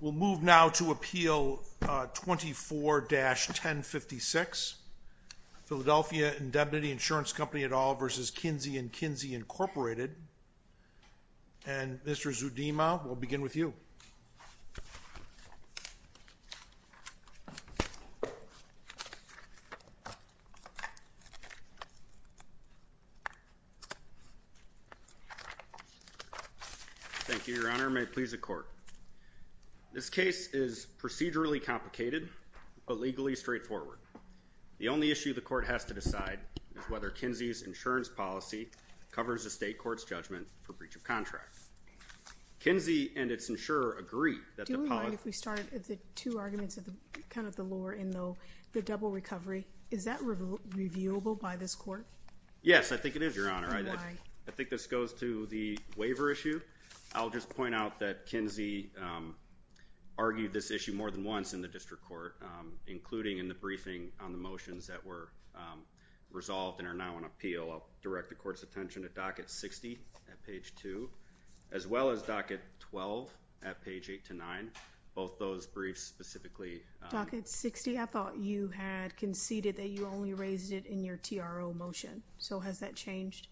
We'll move now to Appeal 24-1056, Philadelphia Indemnity Insurance Company et al. v. Kinsey & Kinsey, Inc. This case is procedurally complicated, but legally straightforward. The only issue the court has to decide is whether Kinsey's insurance policy covers the state court's judgment for breach of contract. Kinsey and its insurer agree that the policy— Do you mind if we start at the two arguments of the law in the double recovery? Is that reviewable by this court? Yes, I think it is, Your Honor. I think this goes to the waiver issue. I'll just point out that Kinsey argued this issue more than once in the district court, including in the briefing on the motions that were resolved and are now on appeal. I'll direct the court's attention to Docket 60 at page 2, as well as Docket 12 at page 8-9. Both those briefs specifically— Docket 60? I thought you had conceded that you only raised it in your TRO motion. So has that changed?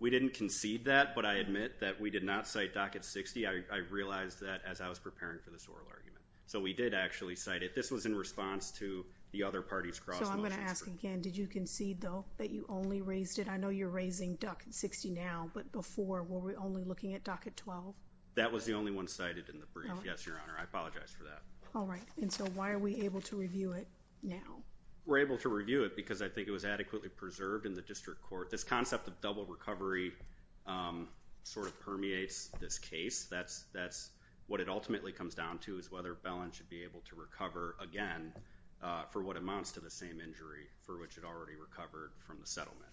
We didn't concede that, but I admit that we did not cite Docket 60. I realized that as I was preparing for this oral argument. So we did actually cite it. This was in response to the other parties' cross motions. So I'm going to ask again. Did you concede, though, that you only raised it? I know you're raising Docket 60 now, but before, were we only looking at Docket 12? That was the only one cited in the brief. Yes, Your Honor. I apologize for that. All right. And so why are we able to review it now? We're able to review it because I think it was adequately preserved in the district court. This concept of double recovery sort of permeates this case. That's what it ultimately comes down to is whether Bellin should be able to recover again for what amounts to the same injury for which it already recovered from the settlement.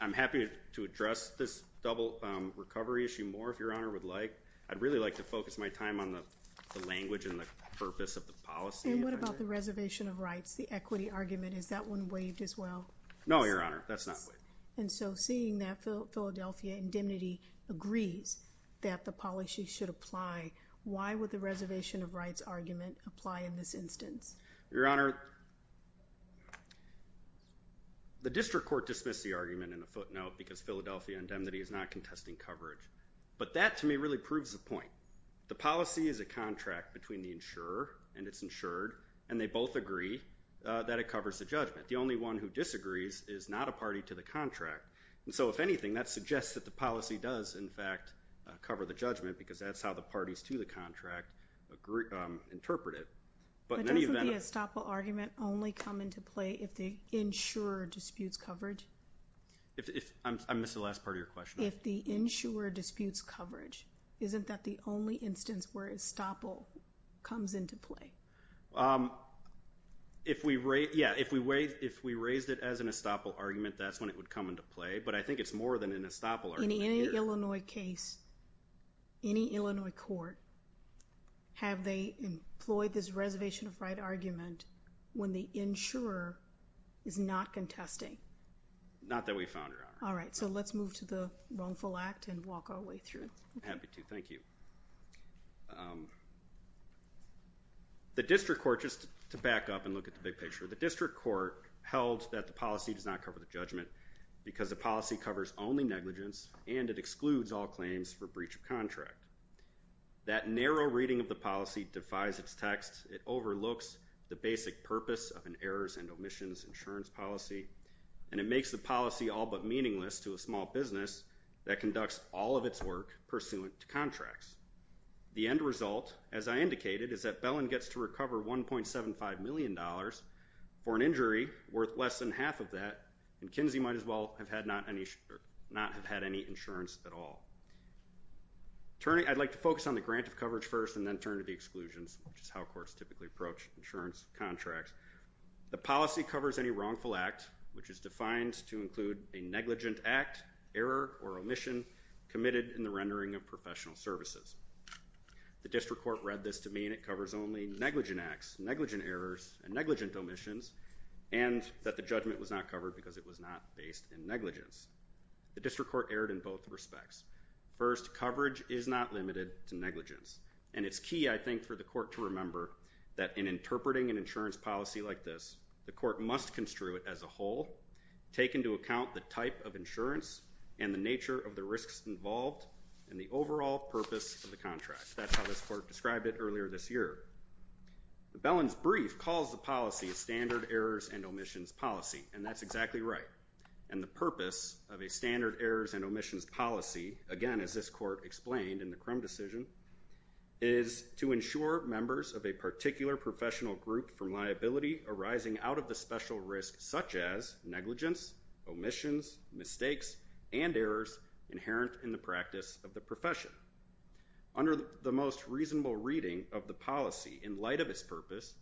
I'm happy to address this double recovery issue more if Your Honor would like. I'd really like to focus my time on the language and the purpose of the policy. And what about the reservation of rights, the equity argument? Is that one waived as well? No, Your Honor. That's not waived. And so seeing that Philadelphia Indemnity agrees that the policy should apply, why would the reservation of rights argument apply in this instance? Your Honor, the district court dismissed the argument in a footnote because Philadelphia Indemnity is not contesting coverage. But that, to me, really proves the point. The policy is a contract between the insurer and its insured. And they both agree that it covers the judgment. The only one who disagrees is not a party to the contract. And so, if anything, that suggests that the policy does, in fact, cover the judgment because that's how the parties to the contract interpret it. But in any event— But doesn't the estoppel argument only come into play if the insurer disputes coverage? If—I missed the last part of your question. If the insurer disputes coverage, isn't that the only instance where estoppel comes into play? Um, if we raise—yeah, if we raised it as an estoppel argument, that's when it would come into play. But I think it's more than an estoppel argument. In any Illinois case, any Illinois court, have they employed this reservation of right argument when the insurer is not contesting? Not that we found, Your Honor. All right. So let's move to the wrongful act and walk our way through. Happy to. Thank you. The district court—just to back up and look at the big picture—the district court held that the policy does not cover the judgment because the policy covers only negligence and it excludes all claims for breach of contract. That narrow reading of the policy defies its text. It overlooks the basic purpose of an errors and omissions insurance policy, and it makes the policy all but meaningless to a small business that conducts all of its work pursuant to contracts. The end result, as I indicated, is that Bellin gets to recover $1.75 million for an injury worth less than half of that, and Kinsey might as well not have had any insurance at all. I'd like to focus on the grant of coverage first and then turn to the exclusions, which is how courts typically approach insurance contracts. The policy covers any wrongful act, which is defined to include a negligent act, error, or omission committed in the rendering of professional services. The district court read this to mean it covers only negligent acts, negligent errors, and negligent omissions, and that the judgment was not covered because it was not based in negligence. The district court erred in both respects. First, coverage is not limited to negligence, and it's key, I think, for the court to remember that in interpreting an insurance policy like this, the court must construe it as a whole, take into account the type of insurance and the nature of the risks involved, and the overall purpose of the contract. That's how this court described it earlier this year. The Bellin's brief calls the policy a standard errors and omissions policy, and that's exactly right, and the purpose of a standard errors and omissions policy, again, as this court explained in the Crum decision, is to ensure members of a particular professional group from liability arising out of the special risk such as negligence, omissions, mistakes, and errors inherent in the practice of the profession. Under the most reasonable reading of the policy in light of its purpose,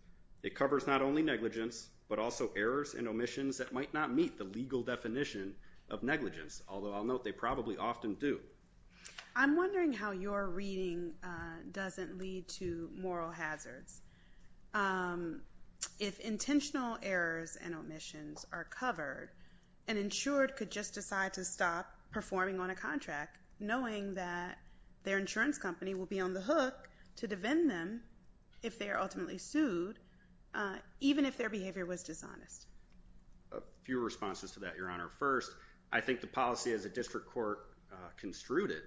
it covers not only negligence, but also errors and omissions that might not meet the legal definition of negligence, although I'll note they probably often do. I'm wondering how your reading doesn't lead to moral hazards. If intentional errors and omissions are covered, an insured could just decide to stop performing on a contract knowing that their insurance company will be on the hook to defend them if they are ultimately sued, even if their behavior was dishonest. A few responses to that, Your Honor. First, I think the policy as a district court construed it,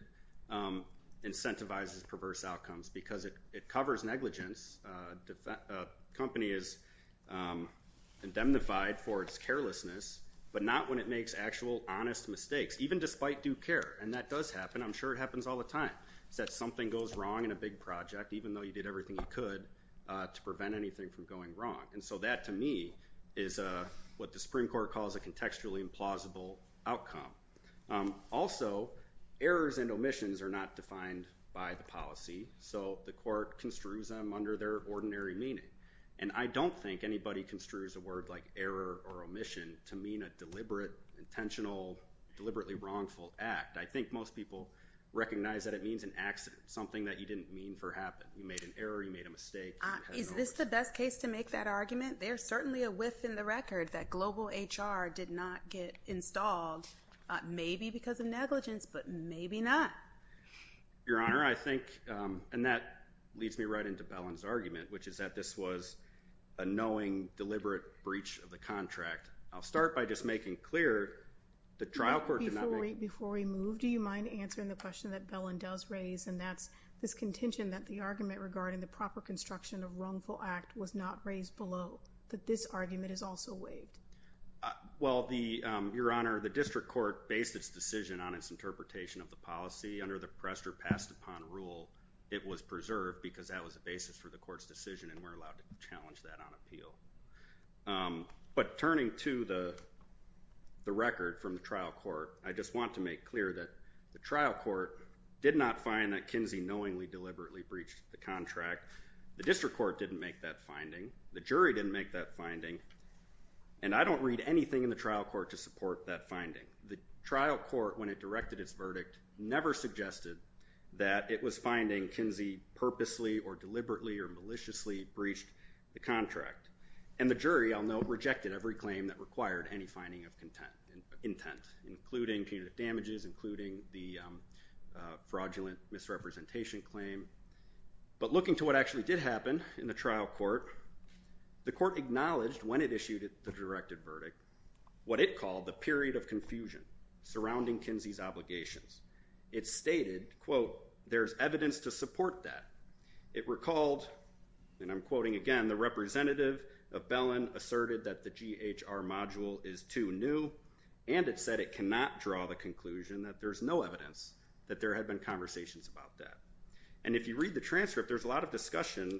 incentivizes perverse outcomes because it covers negligence, a company is indemnified for its carelessness, but not when it makes actual honest mistakes, even despite due care, and that does happen. I'm sure it happens all the time, is that something goes wrong in a big project, even though you did everything you could to prevent anything from going wrong, and so that, to me, is what the Supreme Court calls a contextually implausible outcome. Also, errors and omissions are not defined by the policy, so the court construes them under their ordinary meaning, and I don't think anybody construes a word like error or omission to mean a deliberate, intentional, deliberately wrongful act. I think most people recognize that it means an accident, something that you didn't mean for to happen. You made an error, you made a mistake. Is this the best case to make that argument? There's certainly a whiff in the record that global HR did not get installed, maybe because of negligence, but maybe not. Your Honor, I think, and that leads me right into Bellin's argument, which is that this was a knowing, deliberate breach of the contract. I'll start by just making clear the trial court did not make— Before we move, do you mind answering the question that Bellin does raise, and that's this contention that the argument regarding the proper construction of wrongful act was not raised below, that this argument is also waived? Well, Your Honor, the district court based its decision on its interpretation of the policy. Under the pressed or passed upon rule, it was preserved because that was the basis for the court's decision, and we're allowed to challenge that on appeal. But turning to the record from the trial court, I just want to make clear that the trial court did not find that Kinsey knowingly, deliberately breached the contract. The district court didn't make that finding. The jury didn't make that finding, and I don't read anything in the trial court to support that finding. The trial court, when it directed its verdict, never suggested that it was finding Kinsey purposely or deliberately or maliciously breached the contract. And the jury, I'll note, rejected every claim that required any finding of intent, including punitive damages, including the fraudulent misrepresentation claim. But looking to what actually did happen in the trial court, the court acknowledged when it issued the directed verdict what it called the period of confusion surrounding Kinsey's obligations. It stated, quote, there's evidence to support that. It recalled, and I'm quoting again, the representative of Bellin asserted that the GHR module is too new, and it said it cannot draw the conclusion that there's no evidence that there had been conversations about that. And if you read the transcript, there's a lot of discussion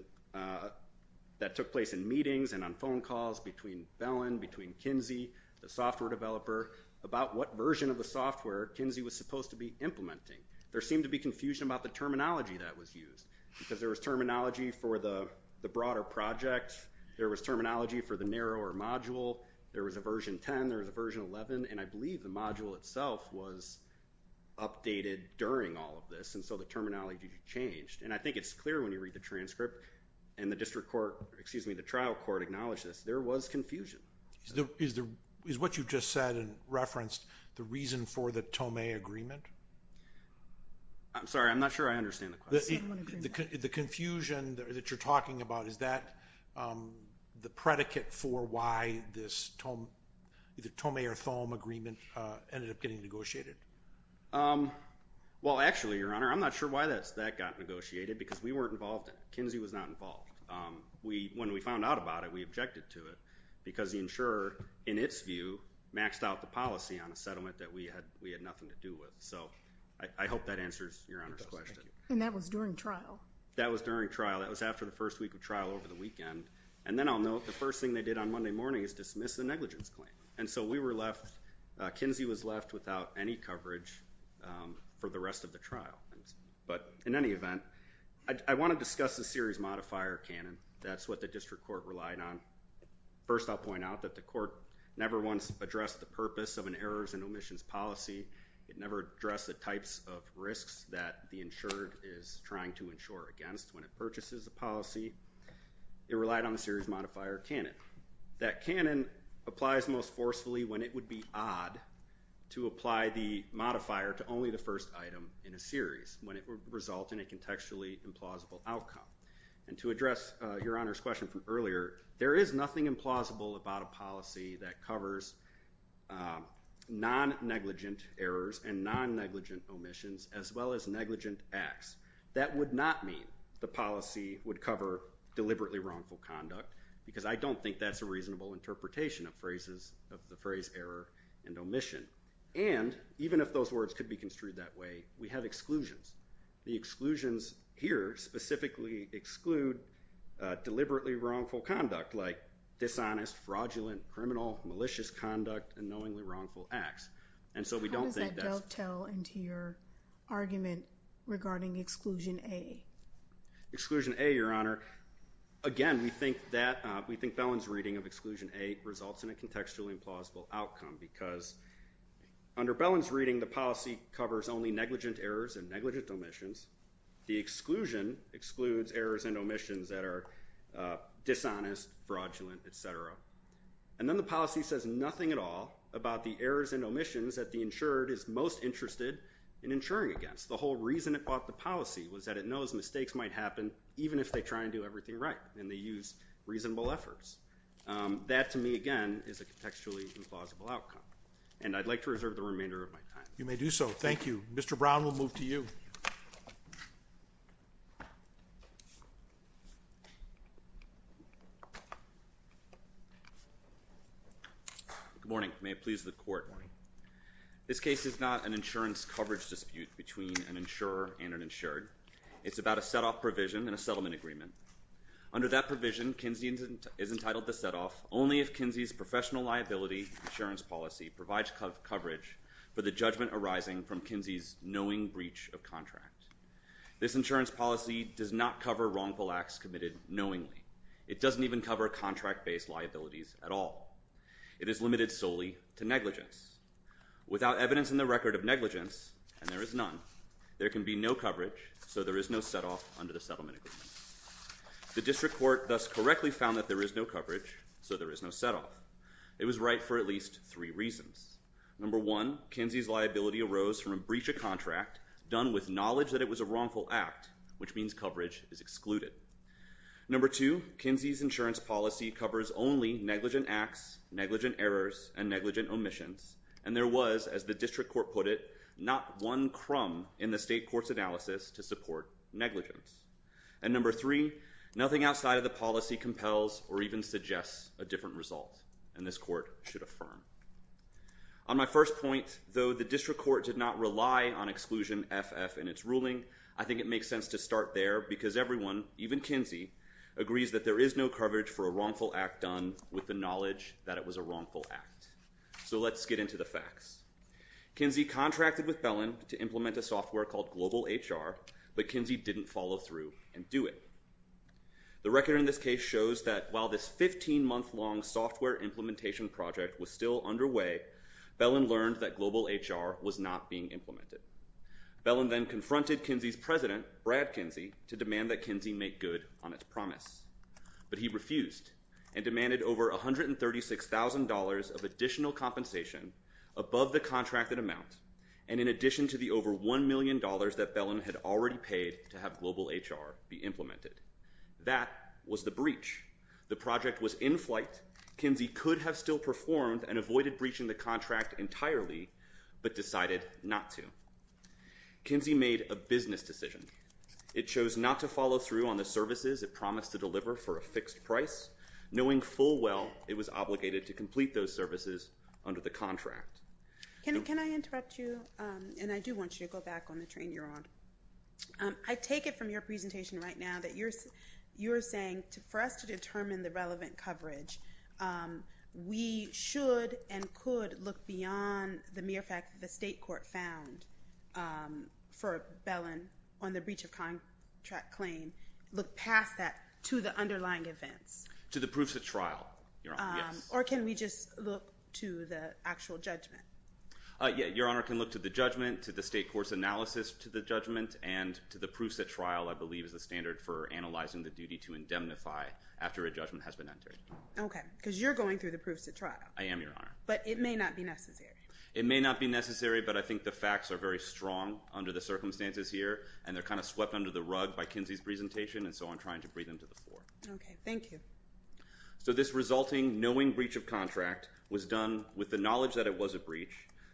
that took place in meetings and on phone calls between Bellin, between Kinsey, the software developer, about what version of the software Kinsey was supposed to be implementing. There seemed to be confusion about the terminology that was used, because there was terminology for the broader project, there was terminology for the narrower module, there was a version 10, there was a version 11, and I believe the module itself was updated during all of this. And so the terminology changed. And I think it's clear when you read the transcript, and the district court, excuse me, the trial court acknowledged this. There was confusion. Is what you just said referenced the reason for the Tomei agreement? I'm sorry, I'm not sure I understand the question. The confusion that you're talking about, is that the predicate for why this either Tomei or Thome agreement ended up getting negotiated? Well, actually, Your Honor, I'm not sure why that got negotiated, because we weren't involved in it. Kinsey was not involved. When we found out about it, we objected to it, because the insurer, in its view, maxed out the policy on the settlement that we had nothing to do with. So I hope that answers Your Honor's question. And that was during trial? That was during trial. That was after the first week of trial over the weekend. And then I'll note, the first thing they did on Monday morning is dismiss the negligence claim. And so we were left, Kinsey was left without any coverage for the rest of the trial. But in any event, I want to discuss the series modifier canon. That's what the district court relied on. First, I'll point out that the court never once addressed the purpose of an errors and omissions policy. It never addressed the types of risks that the insured is trying to insure against when it purchases a policy. It relied on the series modifier canon. That canon applies most forcefully when it would be odd to apply the modifier to only the first item in a series, when it would result in a contextually implausible outcome. And to address Your Honor's question from earlier, there is nothing implausible about a policy that covers non-negligent errors and non-negligent omissions, as well as negligent acts. That would not mean the policy would cover deliberately wrongful conduct, because I don't think that's a reasonable interpretation of the phrase error and omission. And even if those words could be construed that way, we have exclusions. The exclusions here specifically exclude deliberately wrongful conduct, like dishonest, fraudulent, criminal, malicious conduct, and knowingly wrongful acts. And so we don't think that's- How does that dovetail into your argument regarding exclusion A? Exclusion A, Your Honor, again, we think Bellin's reading of exclusion A results in a contextually implausible outcome, because under Bellin's reading, the policy covers only negligent errors and negligent omissions. The exclusion excludes errors and omissions that are dishonest, fraudulent, et cetera. And then the policy says nothing at all about the errors and omissions that the insured is most interested in insuring against. The whole reason it bought the policy was that it knows mistakes might happen even if they try and do everything right, and they use reasonable efforts. That, to me, again, is a contextually implausible outcome. And I'd like to reserve the remainder of my time. You may do so. Thank you. Mr. Brown, we'll move to you. Good morning. May it please the Court. This case is not an insurance coverage dispute between an insurer and an insured. It's about a set-off provision in a settlement agreement. Under that provision, Kinsey is entitled to set-off only if Kinsey's professional liability insurance policy provides coverage for the judgment arising from Kinsey's knowing breach of contract. This insurance policy does not cover wrongful acts committed knowingly. It doesn't even cover contract-based liabilities at all. It is limited solely to negligence. Without evidence in the record of negligence, and there is none, there can be no coverage, so there is no set-off under the settlement agreement. The district court thus correctly found that there is no coverage, so there is no set-off. It was right for at least three reasons. Number one, Kinsey's liability arose from a breach of contract done with knowledge that it was a wrongful act, which means coverage is excluded. Number two, Kinsey's insurance policy covers only negligent acts, negligent errors, and negligent omissions, and there was, as the district court put it, not one crumb in the state court's analysis to support negligence. And number three, nothing outside of the policy compels or even suggests a different result, and this court should affirm. On my first point, though the district court did not rely on exclusion FF in its ruling, I think it makes sense to start there because everyone, even Kinsey, agrees that there is no coverage for a wrongful act done with the knowledge that it was a wrongful act. So let's get into the facts. Kinsey contracted with Bellin to implement a software called Global HR, but Kinsey didn't follow through and do it. The record in this case shows that while this 15-month-long software implementation project was still underway, Bellin learned that Global HR was not being implemented. Bellin then confronted Kinsey's president, Brad Kinsey, to demand that Kinsey make good on its promise, but he refused and demanded over $136,000 of additional compensation above the contracted amount and in addition to the over $1 million that Bellin had already paid to have Global HR be implemented. That was the breach. The project was in flight. Kinsey could have still performed and avoided breaching the contract entirely, but decided not to. Kinsey made a business decision. It chose not to follow through on the services it promised to deliver for a fixed price, knowing full well it was obligated to complete those services under the contract. Can I interrupt you? And I do want you to go back on the train you're on. I take it from your presentation right now that you're saying for us to determine the relevant coverage, we should and could look beyond the mere fact that the state court found for Bellin on the breach of contract claim, look past that to the underlying events. To the proofs at trial, Your Honor, yes. Or can we just look to the actual judgment? Yeah, Your Honor can look to the judgment, to the state court's analysis to the judgment, and to the proofs at trial I believe is the standard for analyzing the duty to indemnify after a judgment has been entered. Okay, because you're going through the proofs at trial. I am, Your Honor. But it may not be necessary. It may not be necessary, but I think the facts are very strong under the circumstances here, and they're kind of swept under the rug by Kinsey's presentation, and so I'm trying to bring them to the floor. Okay, thank you. So this resulting knowing breach of contract was done with the knowledge that it was a breach,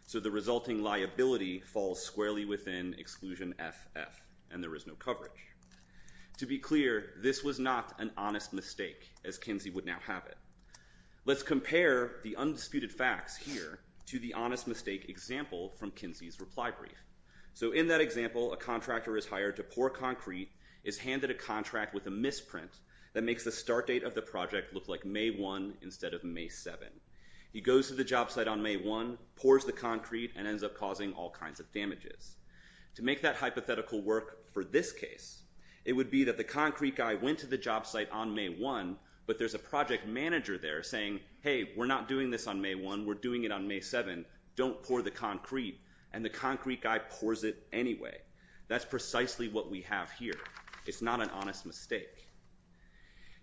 so the resulting liability falls squarely within exclusion FF, and there is no coverage. To be clear, this was not an honest mistake, as Kinsey would now have it. Let's compare the undisputed facts here to the honest mistake example from Kinsey's reply brief. So in that example, a contractor is hired to pour concrete, is handed a contract with a misprint that makes the start date of the project look like May 1 instead of May 7. He goes to the job site on May 1, pours the concrete, and ends up causing all kinds of damages. To make that hypothetical work for this case, it would be that the concrete guy went to the job site on May 1, but there's a project manager there saying, hey, we're not doing this on May 1, we're doing it on May 7, don't pour the concrete, and the concrete guy pours it anyway. That's precisely what we have here. It's not an honest mistake.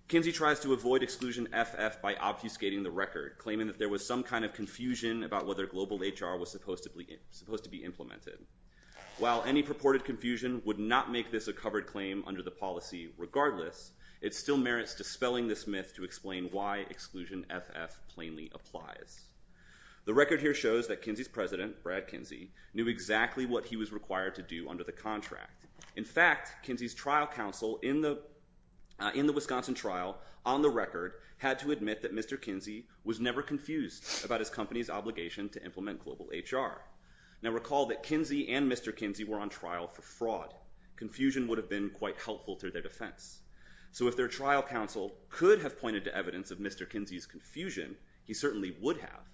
Kinsey tries to avoid exclusion FF by obfuscating the record, claiming that there was some kind of While any purported confusion would not make this a covered claim under the policy regardless, it still merits dispelling this myth to explain why exclusion FF plainly applies. The record here shows that Kinsey's president, Brad Kinsey, knew exactly what he was required to do under the contract. In fact, Kinsey's trial counsel in the Wisconsin trial on the record had to admit that Mr. Kinsey was never confused about his company's obligation to implement global HR. Now recall that Kinsey and Mr. Kinsey were on trial for fraud. Confusion would have been quite helpful to their defense. So if their trial counsel could have pointed to evidence of Mr. Kinsey's confusion, he certainly would have,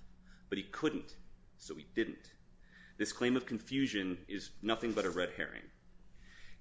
but he couldn't, so he didn't. This claim of confusion is nothing but a red herring.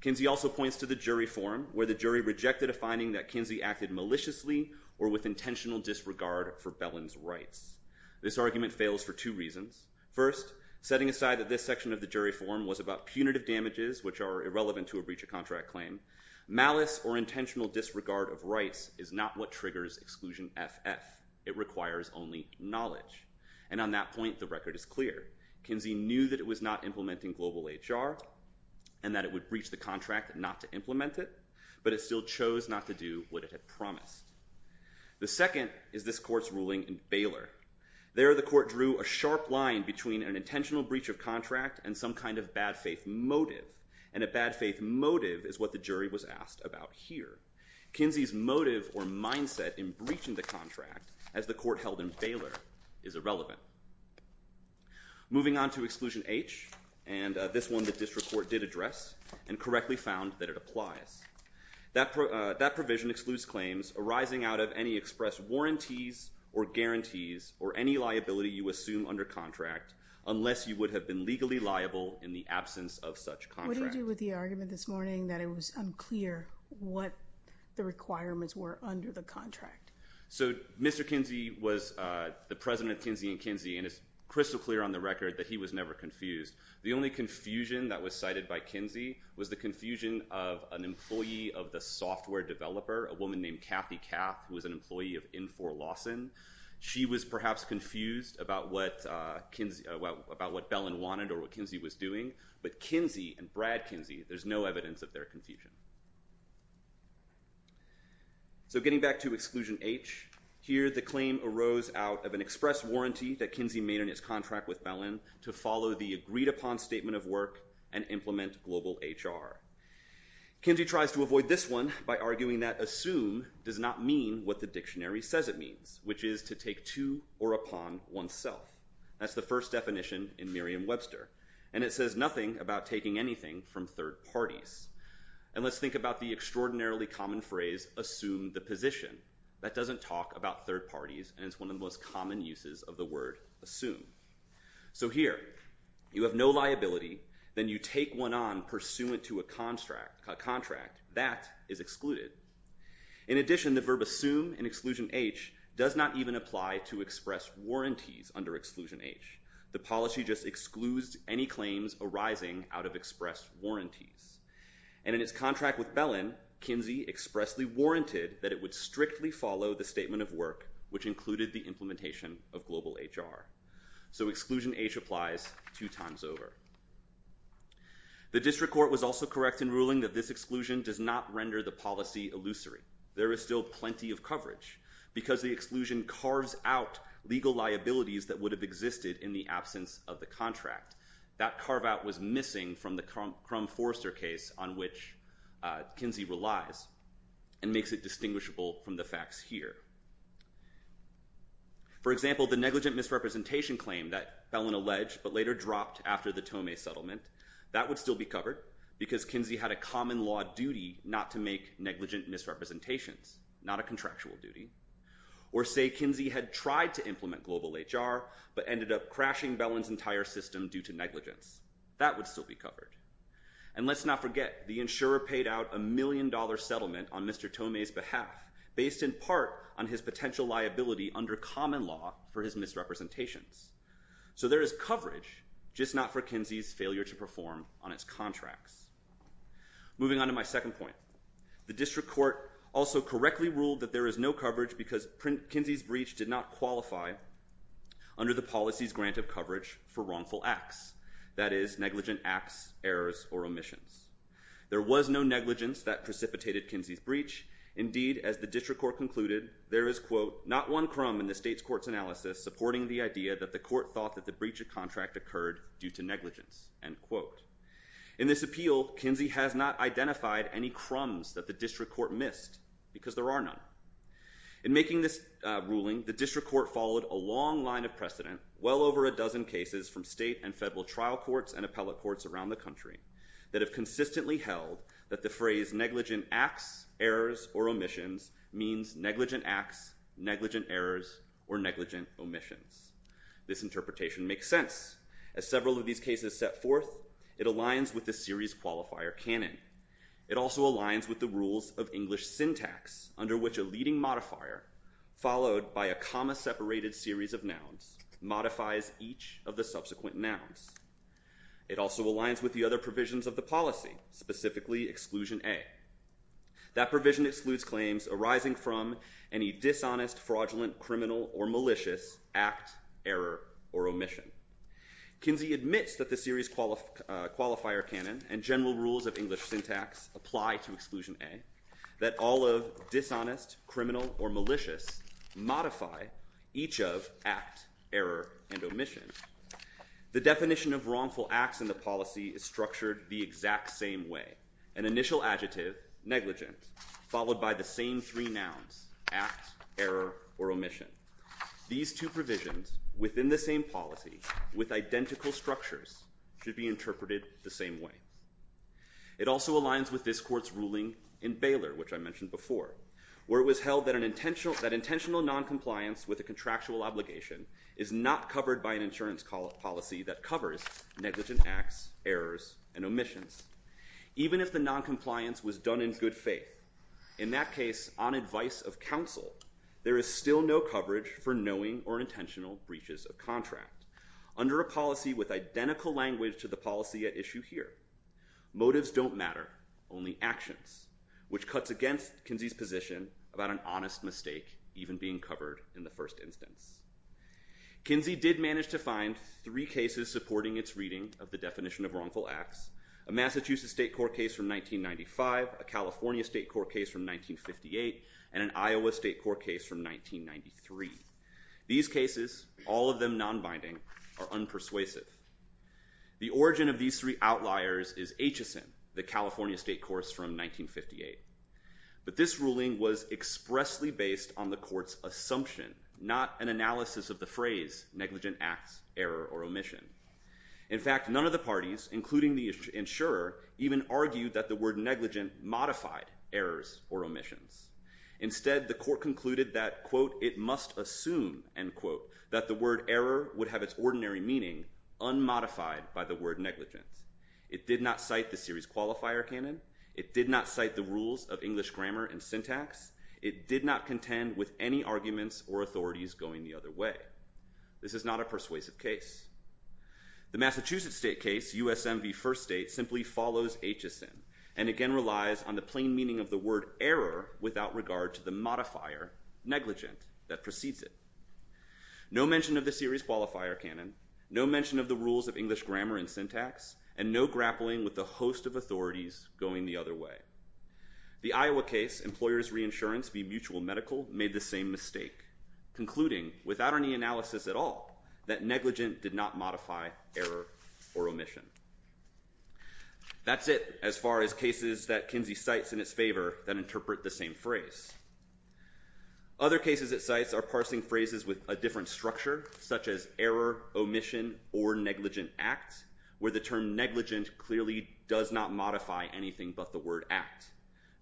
Kinsey also points to the jury forum where the jury rejected a finding that Kinsey acted maliciously or with intentional disregard for Bellin's rights. This argument fails for two reasons. First, setting aside that this section of the jury forum was about punitive damages, which are irrelevant to a breach of contract claim, malice or intentional disregard of rights is not what triggers exclusion FF. It requires only knowledge. And on that point, the record is clear. Kinsey knew that it was not implementing global HR and that it would breach the contract not to implement it, but it still chose not to do what it had promised. The second is this court's ruling in Baylor. There, the court drew a sharp line between an intentional breach of contract and some kind of bad faith motive, and a bad faith motive is what the jury was asked about here. Kinsey's motive or mindset in breaching the contract, as the court held in Baylor, is irrelevant. Moving on to exclusion H, and this one the district court did address and correctly found that it applies. That provision excludes claims arising out of any expressed warranties or guarantees or any liability you assume under contract unless you would have been legally liable in the absence of such contract. What do you do with the argument this morning that it was unclear what the requirements were under the contract? So Mr. Kinsey was the president of Kinsey & Kinsey, and it's crystal clear on the record that he was never confused. The only confusion that was cited by Kinsey was the confusion of an employee of the software developer, a woman named Kathy Kapp, who was an employee of Infor Lawson. She was perhaps confused about what Belin wanted or what Kinsey was doing, but Kinsey and Brad Kinsey, there's no evidence of their confusion. So getting back to exclusion H, here the claim arose out of an express warranty that Kinsey made in his contract with Belin to follow the agreed-upon statement of work and implement global HR. Kinsey tries to avoid this one by arguing that assume does not mean what the dictionary says it means, which is to take to or upon oneself. That's the first definition in Merriam-Webster, and it says nothing about taking anything from third parties. And let's think about the extraordinarily common phrase, assume the position. That doesn't talk about third parties, and it's one of the most common uses of the word assume. So here, you have no liability, then you take one on pursuant to a contract. That is excluded. In addition, the verb assume in exclusion H does not even apply to express warranties under exclusion H. The policy just excludes any claims arising out of express warranties. And in his contract with Belin, Kinsey expressly warranted that it would strictly follow the statement of work, which included the implementation of global HR. So exclusion H applies two times over. The district court was also correct in ruling that this exclusion does not render the policy illusory. There is still plenty of coverage because the exclusion carves out legal liabilities that would have existed in the absence of the contract. That carve-out was missing from the Crum-Forrester case on which Kinsey relies and makes it distinguishable from the facts here. For example, the negligent misrepresentation claim that Belin alleged but later dropped after the Tomei settlement, that would still be covered because Kinsey had a common law duty not to make negligent misrepresentations, not a contractual duty. Or say Kinsey had tried to implement global HR but ended up crashing Belin's entire system due to negligence. That would still be covered. And let's not forget, the insurer paid out a million-dollar settlement on Mr. Tomei's behalf based in part on his potential liability under common law for his misrepresentations. So there is coverage, just not for Kinsey's failure to perform on its contracts. Moving on to my second point. The district court also correctly ruled that there is no coverage because Kinsey's breach did not qualify under the policy's grant of coverage for wrongful acts, that is, negligent acts, errors, or omissions. There was no negligence that precipitated Kinsey's breach. Indeed, as the district court concluded, there is, quote, not one crumb in the state's court's analysis supporting the idea that the court thought that the breach of contract occurred due to negligence, end quote. In this appeal, Kinsey has not identified any crumbs that the district court missed because there are none. In making this ruling, the district court followed a long line of precedent, well over a dozen cases from state and federal trial courts and appellate courts around the country that have consistently held that the phrase negligent acts, errors, or omissions means negligent acts, negligent errors, or negligent omissions. This interpretation makes sense. As several of these cases set forth, it aligns with the series qualifier canon. It also aligns with the rules of English syntax under which a leading modifier, followed by a comma-separated series of nouns, modifies each of the subsequent nouns. It also aligns with the other provisions of the policy, specifically exclusion A. That provision excludes claims arising from any dishonest, fraudulent, criminal, or malicious act, error, or omission. Kinsey admits that the series qualifier canon and general rules of English syntax apply to exclusion A, that all of dishonest, criminal, or malicious modify each of act, error, and omission. The definition of wrongful acts in the policy is structured the exact same way. An initial adjective, negligent, followed by the same three nouns, act, error, or omission. These two provisions within the same policy with identical structures should be interpreted the same way. It also aligns with this court's ruling in Baylor, which I mentioned before, where it was held that intentional noncompliance with a contractual obligation is not covered by an insurance policy that covers negligent acts, errors, and omissions. Even if the noncompliance was done in good faith, in that case, on advice of counsel, there is still no coverage for knowing or intentional breaches of contract. Under a policy with identical language to the policy at issue here, motives don't matter, only actions, which cuts against Kinsey's position about an honest mistake even being covered in the first instance. Kinsey did manage to find three cases supporting its reading of the definition of wrongful acts, a Massachusetts state court case from 1995, a California state court case from 1958, and an Iowa state court case from 1993. These cases, all of them nonbinding, are unpersuasive. The origin of these three outliers is HSN, the California state courts from 1958. But this ruling was expressly based on the court's assumption, not an analysis of the phrase negligent acts, error, or omission. In fact, none of the parties, including the insurer, even argued that the word negligent modified errors or omissions. Instead, the court concluded that, quote, it must assume, end quote, that the word error would have its ordinary meaning unmodified by the word negligence. It did not cite the series qualifier canon. It did not cite the rules of English grammar and syntax. It did not contend with any arguments or authorities going the other way. This is not a persuasive case. The Massachusetts state case, USM v. First State, simply follows HSN and, again, relies on the plain meaning of the word error without regard to the modifier, negligent, that precedes it. No mention of the series qualifier canon, no mention of the rules of English grammar and syntax, and no grappling with the host of authorities going the other way. The Iowa case, employers' reinsurance v. Mutual Medical, made the same mistake, concluding, without any analysis at all, that negligent did not modify error or omission. That's it as far as cases that Kinsey cites in its favor that interpret the same phrase. Other cases it cites are parsing phrases with a different structure, such as error, omission, or negligent act, where the term negligent clearly does not modify anything but the word act.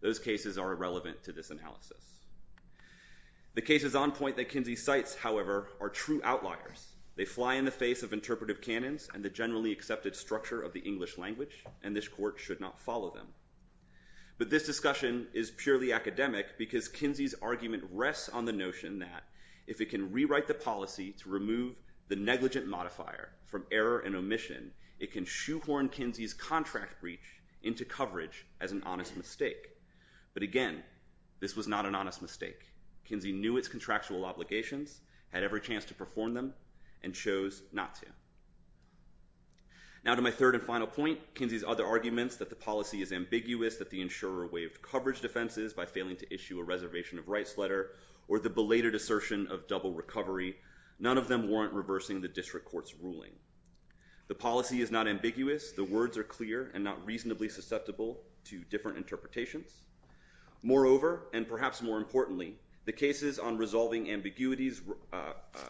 Those cases are irrelevant to this analysis. The cases on point that Kinsey cites, however, are true outliers. They fly in the face of interpretive canons and the generally accepted structure of the English language, and this court should not follow them. But this discussion is purely academic because Kinsey's argument rests on the notion that if it can rewrite the policy to remove the negligent modifier from error and omission, it can shoehorn Kinsey's contract breach into coverage as an honest mistake. But again, this was not an honest mistake. Kinsey knew its contractual obligations, had every chance to perform them, and chose not to. Now to my third and final point, Kinsey's other arguments that the policy is ambiguous, that the insurer waived coverage defenses by failing to issue a reservation of rights letter or the belated assertion of double recovery, none of them warrant reversing the district court's ruling. The policy is not ambiguous. The words are clear and not reasonably susceptible to different interpretations. Moreover, and perhaps more importantly, the cases on resolving ambiguities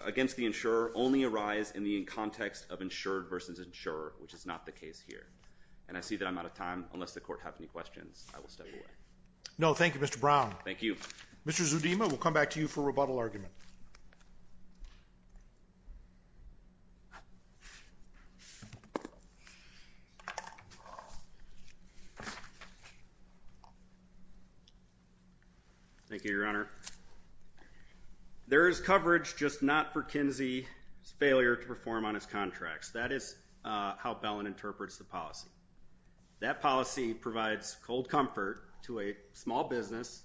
against the insurer only arise in the context of insured versus insurer, which is not the case here. And I see that I'm out of time. Unless the court has any questions, I will step away. No, thank you, Mr. Brown. Thank you. Mr. Zudema, we'll come back to you for rebuttal argument. Thank you, Your Honor. There is coverage, just not for Kinsey's failure to perform on his contracts. That is how Bellen interprets the policy. That policy provides cold comfort to a small business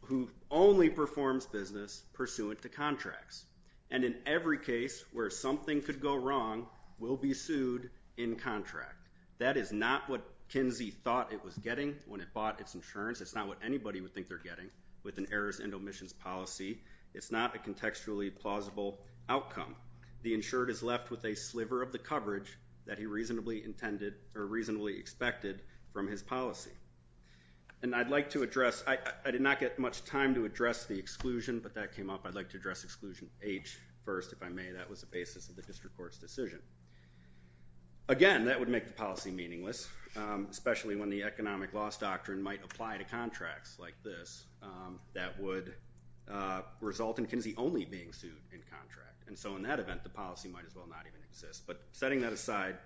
who only performs business pursuant to contracts. And in every case where something could go wrong, we'll be sued in contract. That is not what Kinsey thought it was getting when it bought its insurance. It's not what anybody would think they're getting with an errors and omissions policy. It's not a contextually plausible outcome. The insured is left with a sliver of the coverage that he reasonably intended or reasonably expected from his policy. And I'd like to address, I did not get much time to address the exclusion, but that came up. I'd like to address exclusion H first, if I may. That was the basis of the district court's decision. Again, that would make the policy meaningless, especially when the economic loss doctrine might apply to contracts like this. That would result in Kinsey only being sued in contract. And so in that event, the policy might as well not even exist. But setting that aside,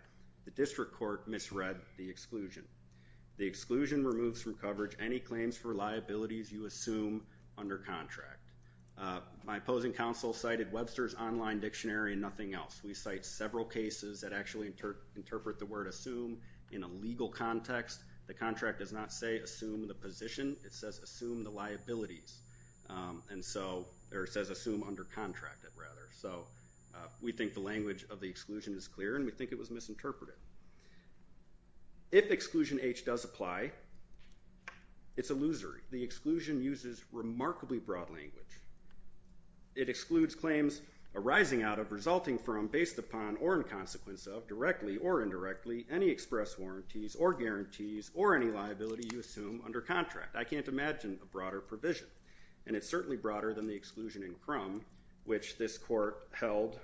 the district court misread the exclusion. The exclusion removes from coverage any claims for liabilities you assume under contract. My opposing counsel cited Webster's online dictionary and nothing else. We cite several cases that actually interpret the word assume in a legal context. The contract does not say assume the position. It says assume the liabilities. And so, or it says assume under contract, rather. So we think the language of the exclusion is clear and we think it was misinterpreted. If exclusion H does apply, it's illusory. The exclusion uses remarkably broad language. It excludes claims arising out of resulting from, based upon or in consequence of, directly or indirectly, any express warranties or guarantees or any liability you assume under contract. I can't imagine a broader provision. And it's certainly broader than the exclusion in Crum, which this court held,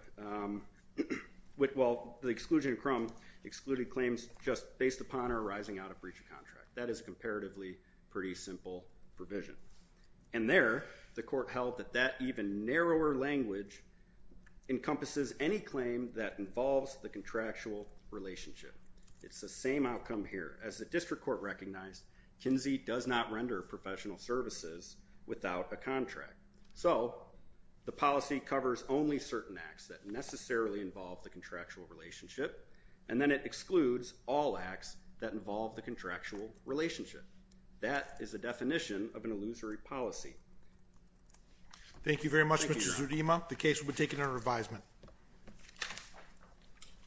well, the exclusion in Crum excluded claims just based upon or arising out of breach of contract. That is comparatively pretty simple provision. And there, the court held that that even narrower language encompasses any claim that involves the contractual relationship. It's the same outcome here. As the district court recognized, Kinsey does not render professional services without a contract. So the policy covers only certain acts that necessarily involve the contractual relationship. And then it excludes all acts that involve the contractual relationship. That is a definition of an illusory policy. Thank you very much, Mr. Zurima. The case will be taken under revisement.